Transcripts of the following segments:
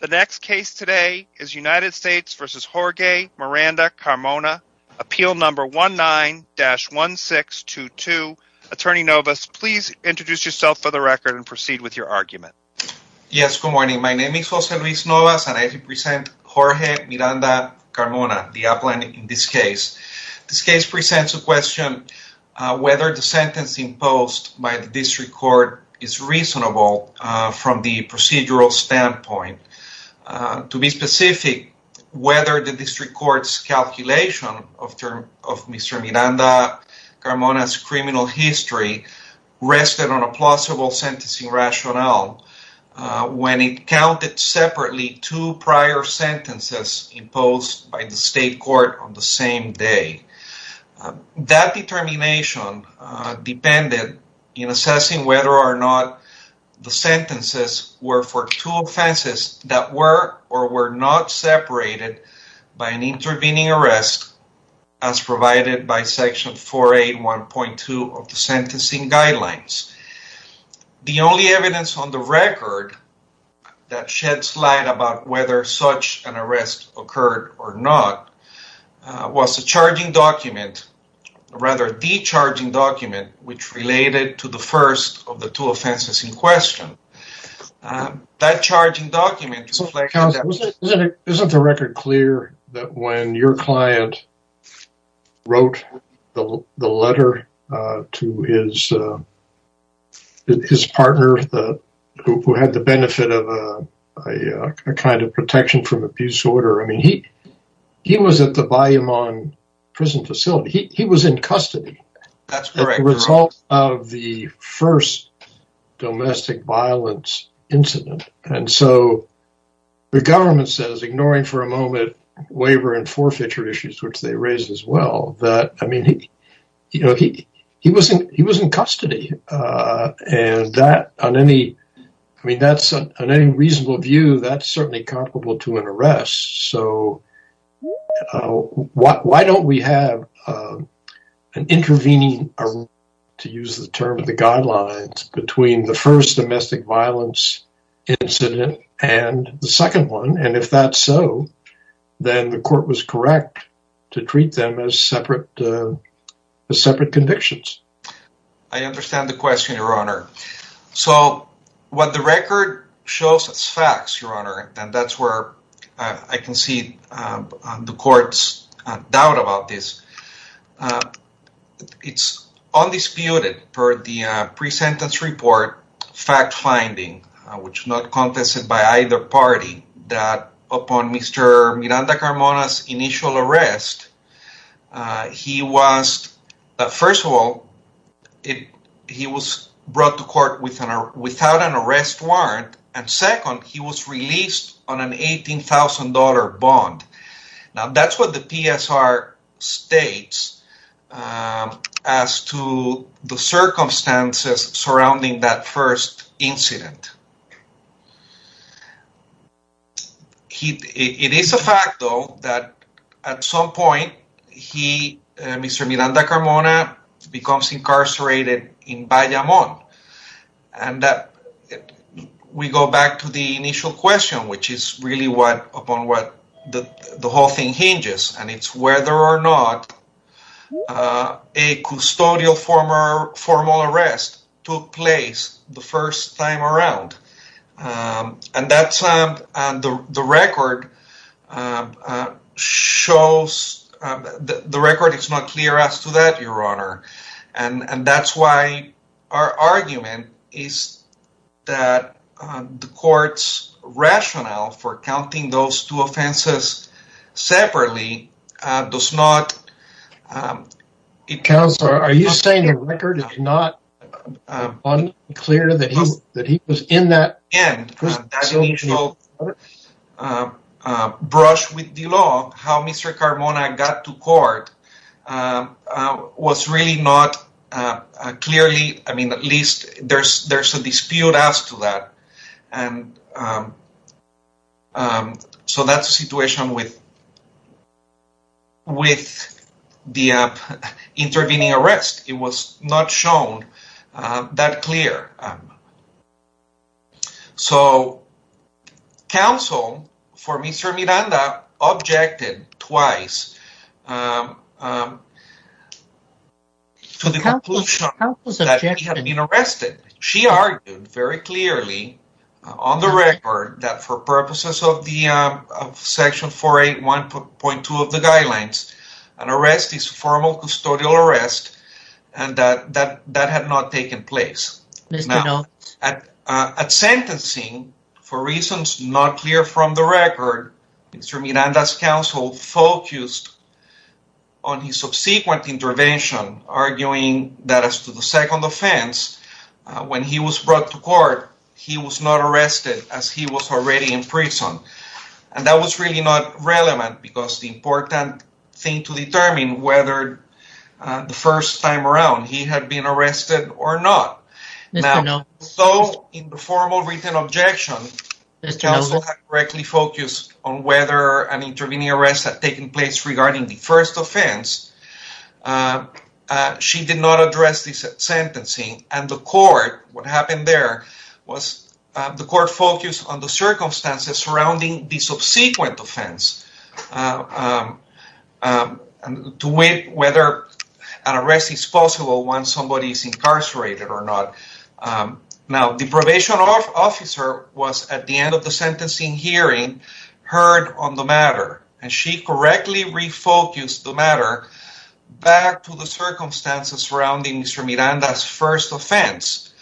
The next case today is United States v. Jorge Miranda-Carmona, appeal number 19-1622. Attorney Novas, please introduce yourself for the record and proceed with your argument. Yes, good morning. My name is Jose Luis Novas and I represent Jorge Miranda-Carmona, the appellant in this case. This case presents a question whether the sentence imposed by the district court is a procedural standpoint. To be specific, whether the district court's calculation of Mr. Miranda-Carmona's criminal history rested on a plausible sentencing rationale when it counted separately two prior sentences imposed by the state court on the same day. That determination depended in assessing whether or not the sentences were for two offenses that were or were not separated by an intervening arrest as provided by section 481.2 of the sentencing guidelines. The only evidence on the record that sheds light about whether such an arrest occurred or not was a charging document, rather a de-charging document, which related to the first of the two offenses in question. That charging document... Counsel, isn't the record clear that when your client wrote the letter to his partner who had the benefit of a kind of protection from abuse order, I mean, he was at the Bayamon prison facility. He was in custody. That's correct. As a result of the first domestic violence incident. And so the government says, ignoring for a moment waiver and forfeiture issues, which they raised as well, that, I mean, you know, he was in custody. And that on any, I mean, that's on any reasonable view, that's certainly comparable to an arrest. So why don't we have an intervening, to use the term of the guidelines, between the first domestic violence incident and the second one? And if that's so, then the court was correct to treat them as separate, separate convictions. I understand the question, Your Honor. So what the record shows as facts, Your Honor, and that's where I can see the court's doubt about this. It's undisputed for the pre-sentence report fact finding, which is not contested by either party, that upon Mr. Miranda Carmona's initial arrest, he was, first of all, he was brought to court without an arrest warrant. And second, he was released on an $18,000 bond. Now, that's what the PSR states as to the circumstances surrounding that first incident. It is a fact, though, that at some point, he, Mr. Miranda Carmona, becomes incarcerated in Bayamón, and that we go back to the initial question, which is really what, upon what the whole thing hinges, and it's whether or not a custodial formal arrest took place the first time around. And that's, the record shows, the record is not clear as to that, Your Honor. And that's why our argument is that the court's rationale for counting those two offenses separately does not... Counselor, are you saying the record is not unclear that he was in that... And that initial brush with the law, how Mr. Carmona got to court, was really not clearly, I mean, at least there's a dispute as to that. And so that's a situation with the intervening arrest. It was not shown that clear. So, counsel for Mr. Miranda objected twice to the conclusion that he had been arrested. She argued very clearly on the record that for purposes of the Section 481.2 of the guidelines, an arrest is formal custodial arrest, and that that had not taken place. Now, at sentencing, for reasons not clear from the record, Mr. Miranda's counsel focused on his subsequent intervention, arguing that as to the second offense, when he was brought to court, he was not arrested as he was already in prison. And that was really not relevant because the important thing to determine whether the defendant had been arrested or not. Now, so in the formal written objection, the counsel had directly focused on whether an intervening arrest had taken place regarding the first offense. She did not address this at sentencing. And the court, what happened there was the court focused on the circumstances surrounding the subsequent offense to weigh whether an arrest is possible when somebody is incarcerated or not. Now, the probation officer was at the end of the sentencing hearing heard on the matter and she correctly refocused the matter back to the circumstances surrounding Mr. Miranda's offense,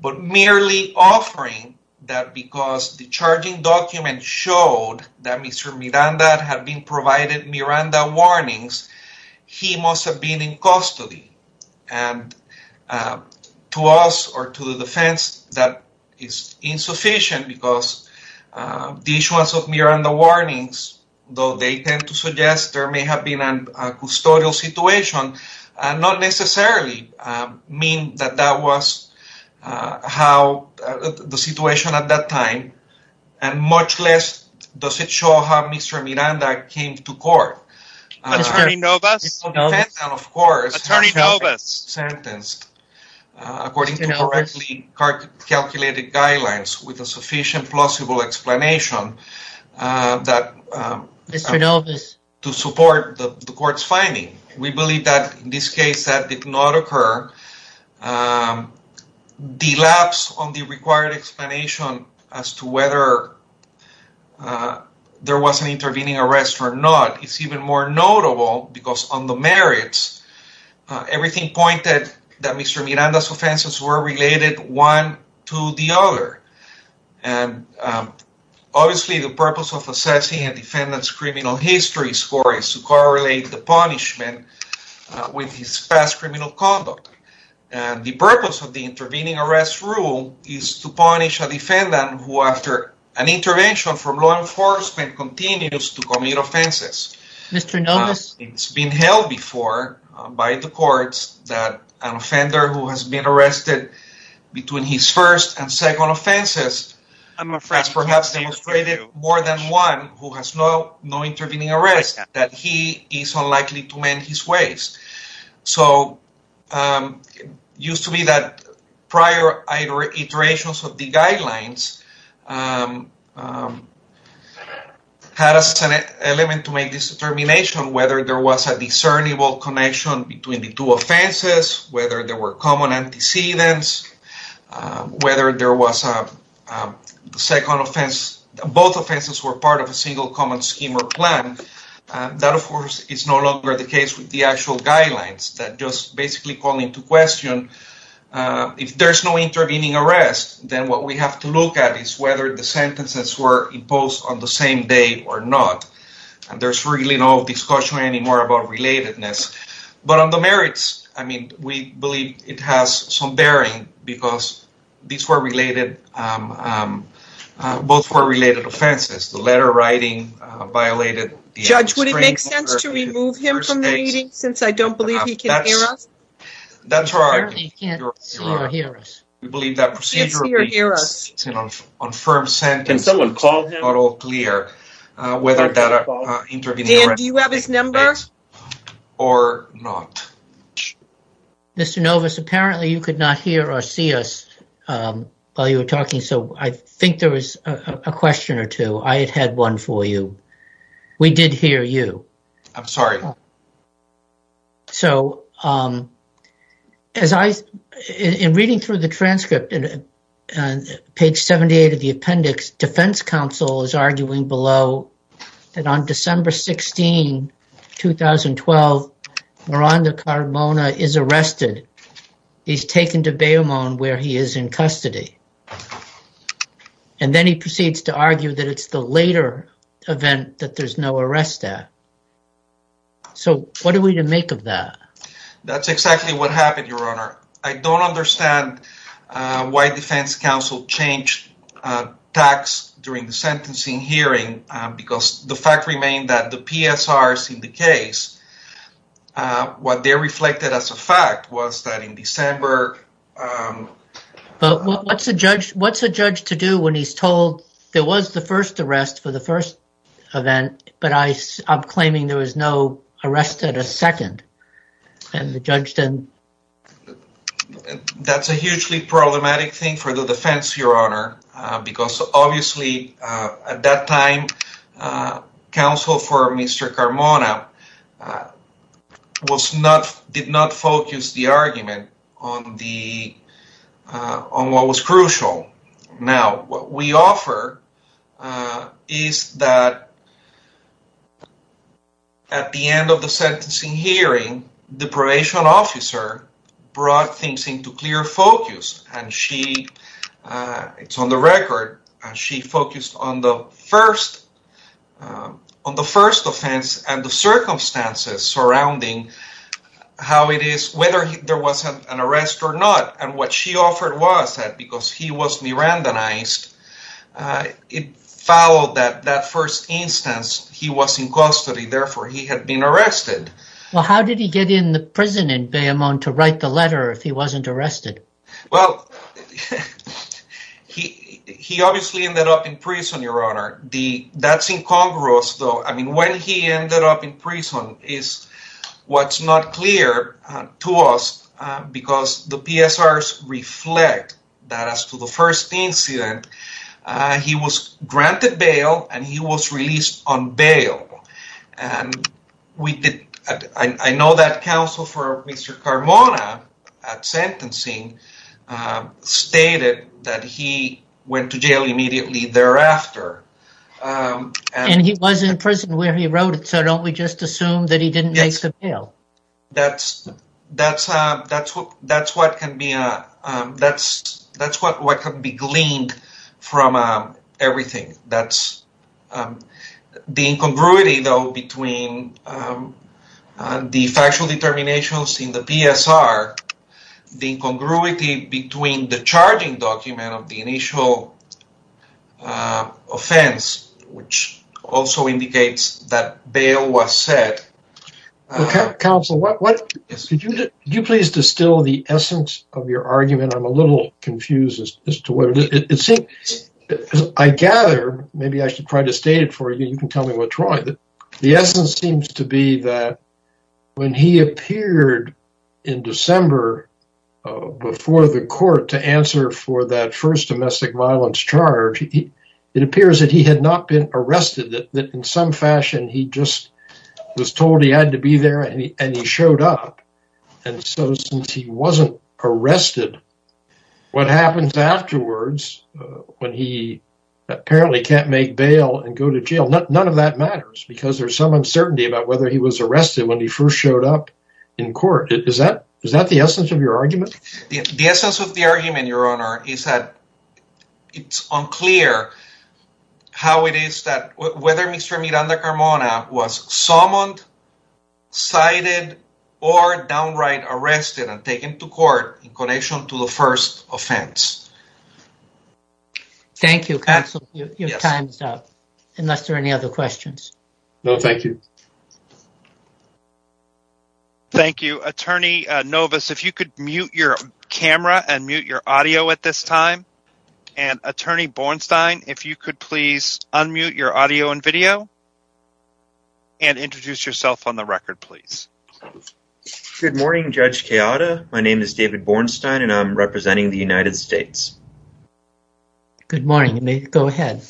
but merely offering that because the charging document showed that Mr. Miranda had been provided Miranda warnings, he must have been in custody. And to us or to the defense, that is insufficient because the issuance of Miranda warnings, though they tend to suggest there may have been a custodial situation and not necessarily mean that that was how the situation at that time and much less does it show how Mr. Miranda came to court. Attorney Novus? Of course, attorney Novus sentenced according to correctly calculated guidelines with a sufficient plausible explanation that Mr. Novus to support the court's finding. We believe that in this case that did not occur. The lapse on the required explanation as to whether there was an intervening arrest or not, it's even more notable because on the merits, everything pointed that Mr. Miranda's offenses were related one to the other. And obviously, the purpose of assessing a defendant's criminal history score is to correlate the punishment with his past criminal conduct. And the purpose of the intervening arrest rule is to punish a defendant who, after an intervention from law enforcement, continues to commit offenses. Mr. Novus? It's been held before by the courts that an offender who has been arrested between his first and second offenses has perhaps demonstrated more than one who has no intervening arrest, that he is unlikely to mend his ways. So it used to be that prior iterations of the guidelines had as an element to make this determination whether there was a discernible connection between the two offenses, whether there were common antecedents, whether there was a second offense. Both offenses were part of a single common scheme or plan. That, of course, is no longer the case with the actual guidelines that just basically call into question if there's no intervening arrest, then what we have to look at is whether the sentences were imposed on the same day or not. And there's really no discussion anymore about relatedness. But on the merits, I mean, we believe it has some bearing because these were related. Both were related offenses. The letter writing violated the restraining order. Judge, would it make sense to remove him from the meeting since I don't believe he can hear us? That's our... Apparently he can't see or hear us. We believe that procedure... He can't see or hear us. ...on firm sentencing is not at all clear whether that intervening arrest... Dan, do you have his number? ...or not. Mr. Novus, apparently you could not hear or see us while you were talking. So I think there was a question or two. I had had one for you. We did hear you. I'm sorry. So, as I, in reading through the transcript, page 78 of the appendix, Defense Counsel is arguing below that on December 16, 2012, Miranda Carmona is arrested. He's taken to Bayou Mon where he is in custody. And then he proceeds to argue that it's the later event that there's no arrest at. So what are we to make of that? That's exactly what happened, Your Honor. I don't understand why Defense Counsel changed tacks during the sentencing hearing because the fact remained that the PSRs in the case, what they reflected as a fact was that in December... But what's a judge to do when he's told there was the first arrest for the first event, but I'm claiming there was no arrest at a second. And the judge then... That's a hugely problematic thing for the defense, Your Honor, because obviously at that time, counsel for Mr. Carmona was not, did not focus the argument on the, on what was crucial. Now, what we offer is that at the end of the sentencing hearing, the probation officer brought things into clear focus and she, it's on the record, she focused on the first, on the first offense and the circumstances surrounding how it is, whether there was an arrest or not. And what she offered was that because he was Mirandanized, it followed that that first instance, he was in custody. Therefore, he had been arrested. Well, how did he get in the prison in Bayamón to write the letter if he wasn't arrested? Well, he obviously ended up in prison, Your Honor. That's incongruous, though. I mean, when he ended up in prison is what's not clear to us because the PSRs reflect that as to the first incident, he was granted bail and he was released on bail. And we did, I know that counsel for Mr. Carmona at sentencing stated that he went to jail immediately thereafter. And he was in prison where he wrote it. So don't we just assume that he didn't make the bail? That's, that's, that's what, that's what can be, that's, that's what, what can be gleaned from everything. That's the incongruity, though, between the factual determinations in the PSR, the incongruity between the charging document of the initial offense, which also indicates that bail was set. Counsel, what is it you please distill the essence of your argument? I'm a little confused as to what it seems. I gather, maybe I should try to state it for you. You can tell me what's wrong. The essence seems to be that when he appeared in December before the court to answer for that first domestic violence charge, it appears that he had not been arrested, that in some fashion, he just was told he had to be there and he showed up. And so since he wasn't arrested, what happens afterwards when he apparently can't make bail and go to jail, none of that matters because there's some uncertainty about whether he was arrested when he first showed up in court. Is that, is that the essence of your argument? The essence of the argument, Your Honor, is that it's unclear how it is that whether Mr. Miranda Carmona was summoned, cited or downright arrested and taken to court in connection to the first offense. Thank you, counsel, your time's up, unless there are any other questions. No, thank you. Thank you, Attorney Novus. If you could mute your camera and mute your audio at this time. And Attorney Bornstein, if you could please unmute your audio and video. And introduce yourself on the record, please. Good morning, Judge Keada. My name is David Bornstein and I'm representing the United States. Good morning. You may go ahead.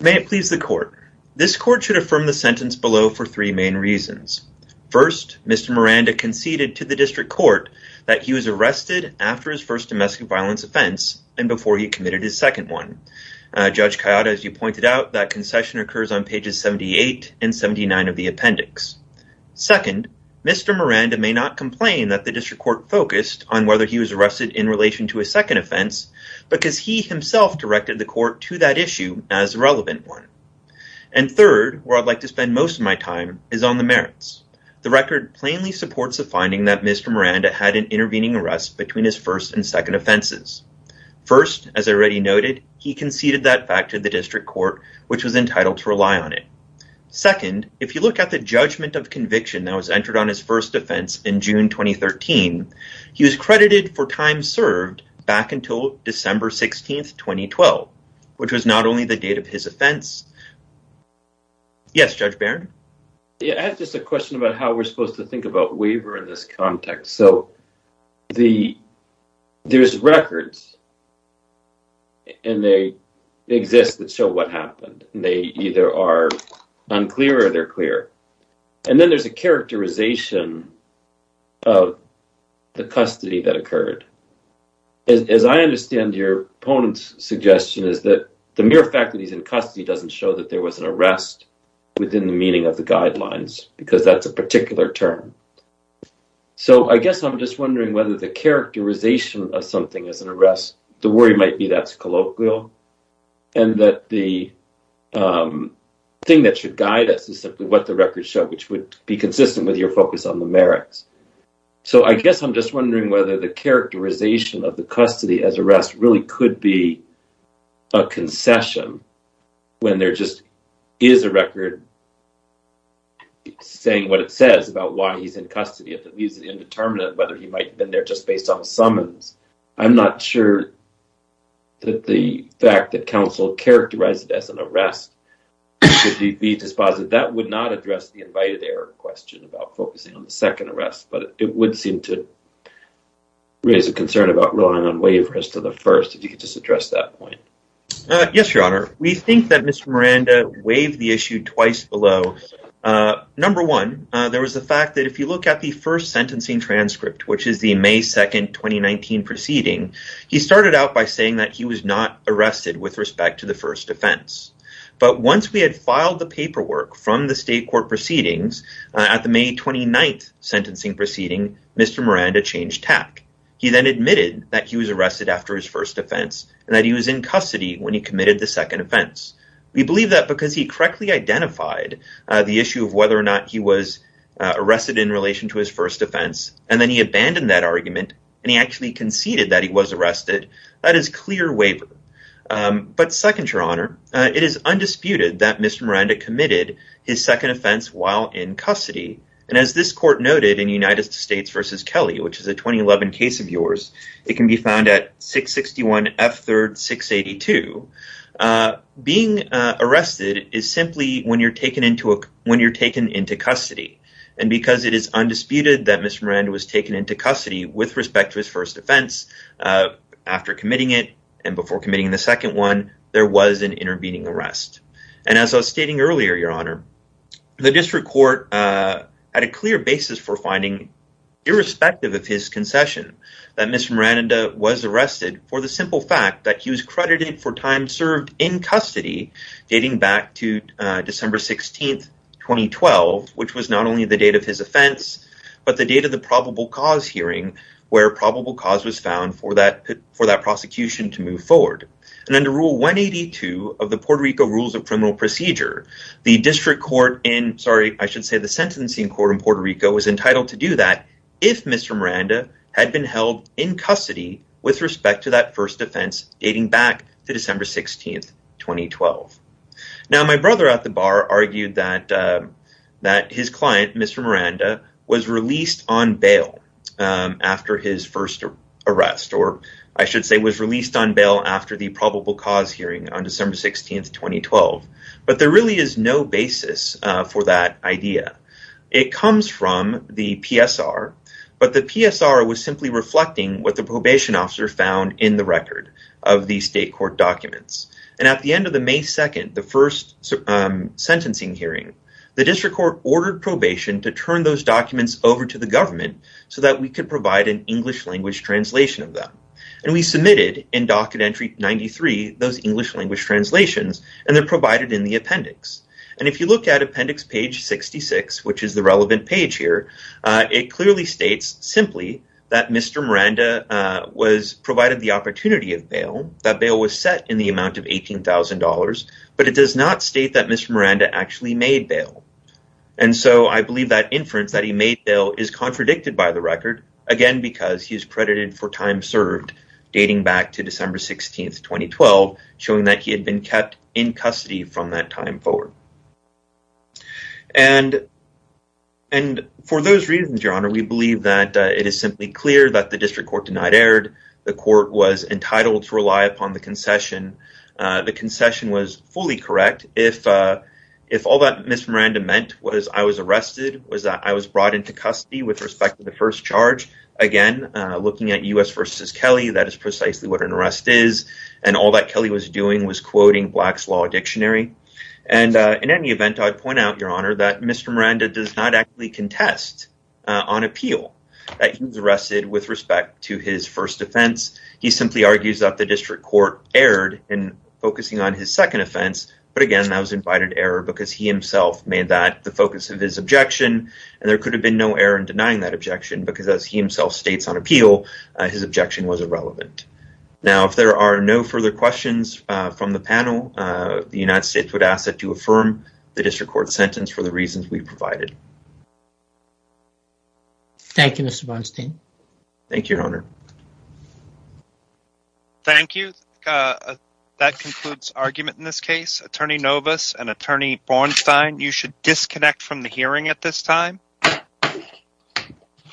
May it please the court. This court should affirm the sentence below for three main reasons. First, Mr. Miranda conceded to the district court that he was arrested after his first domestic violence offense and before he committed his second one. Judge Keada, as you pointed out, that concession occurs on pages 78 and 79 of the appendix. Second, Mr. Miranda may not complain that the district court focused on whether he was arrested in relation to a second offense because he himself directed the court to that issue as a relevant one. And third, where I'd like to spend most of my time is on the merits. The record plainly supports the finding that Mr. Miranda had an intervening arrest between his first and second offenses. First, as I already noted, he conceded that fact to the district court, which was entitled to rely on it. Second, if you look at the judgment of conviction that was entered on his first defense in June 2013, he was credited for time served back until December 16th, 2012, which was not only the date of his first offense. Yes, Judge Barron. Yeah, I have just a question about how we're supposed to think about waiver in this context. So there's records and they exist that show what happened and they either are unclear or they're clear. And then there's a characterization of the custody that occurred. As I understand your opponent's suggestion is that the mere fact that he's in custody doesn't show that there was an arrest within the meaning of the guidelines, because that's a particular term. So I guess I'm just wondering whether the characterization of something as an arrest, the worry might be that's colloquial and that the thing that should guide us is simply what the records show, which would be consistent with your focus on the merits. So I guess I'm just wondering whether the characterization of the custody as arrest really could be a concession when there just is a record saying what it says about why he's in custody, if he's indeterminate, whether he might have been there just based on summons. I'm not sure that the fact that counsel characterized it as an arrest should be dispositive. That would not address the invited error question about focusing on the second arrest, but it would seem to raise a concern about relying on waiver as to the first, if you could just address that point. Yes, Your Honor. We think that Mr. Miranda waived the issue twice below. Number one, there was the fact that if you look at the first sentencing transcript, which is the May 2nd, 2019 proceeding, he started out by saying that he was not arrested with respect to the first offense. But once we had filed the paperwork from the state court proceedings at the May 29th sentencing proceeding, Mr. Miranda changed tack. He then admitted that he was arrested after his first offense and that he was in custody when he committed the second offense. We believe that because he correctly identified the issue of whether or not he was arrested in relation to his first offense, and then he abandoned that argument and he actually conceded that he was arrested. That is clear waiver. But second, Your Honor, it is undisputed that Mr. Miranda committed his second offense while in custody. And as this court noted in United States versus Kelly, which is a 2011 case of yours, it can be found at 661 F. Third 682 being arrested is simply when you're taken into when you're taken into custody. And because it is undisputed that Mr. Miranda was taken into custody with respect to his first offense after committing it and before committing the second one, there was an intervening arrest. And as I was stating earlier, Your Honor, the district court had a clear basis for finding irrespective of his concession that Mr. Miranda was arrested for the simple fact that he was credited for time served in custody dating back to December 16th, 2012, which was not only the date of his offense, but the date of the probable cause hearing where probable cause was found for that for that prosecution to move forward. And under Rule 182 of the Puerto Rico Rules of Criminal Procedure, the district court in sorry, I should say the sentencing court in Puerto Rico was entitled to do that if Mr. Miranda had been held in custody with respect to that first offense dating back to December 16th, 2012. Now, my brother at the bar argued that that his client, Mr. Miranda, was released on bail after his first arrest, or I should say was released on bail after the probable cause hearing on December 16th, 2012. But there really is no basis for that idea. It comes from the PSR, but the PSR was simply reflecting what the probation officer found in the record of the state court documents. And at the end of the May 2nd, the first sentencing hearing, the district court ordered probation to turn those documents over to the government so that we could provide an English language translation of them. And we submitted in docket entry 93, those English language translations, and they're provided in the appendix. And if you look at appendix page 66, which is the relevant page here, it clearly states simply that Mr. Miranda was provided the opportunity of bail, that bail was set in the amount of $18,000, but it does not state that Mr. Miranda actually made bail. And so I believe that inference that he made bail is contradicted by the record, again, because he's credited for time served dating back to December 16th, 2012, showing that he had been kept in custody from that time forward. And and for those reasons, your honor, we believe that it is simply clear that the district court denied erred, the court was entitled to rely upon the concession, the concession was fully correct. If if all that Mr. Miranda meant was I was arrested, was that I was brought into custody with respect to the first charge again, looking at U.S. versus Kelly, that is precisely what an arrest is. And all that Kelly was doing was quoting Black's Law Dictionary. And in any event, I'd point out, your honor, that Mr. Miranda does not actually contest on appeal that he was arrested with respect to his first offense. He simply argues that the district court erred in focusing on his second offense. But again, that was invited error because he himself made that the focus of his objection. And there could have been no error in denying that objection, because as he himself states on appeal, his objection was irrelevant. Now, if there are no further questions from the panel, the United States would ask that you affirm the district court sentence for the reasons we provided. Thank you, Mr. Bernstein. Thank you, your honor. Thank you. That concludes argument in this case. Attorney Novus and Attorney Bernstein, you should disconnect from the hearing at this time.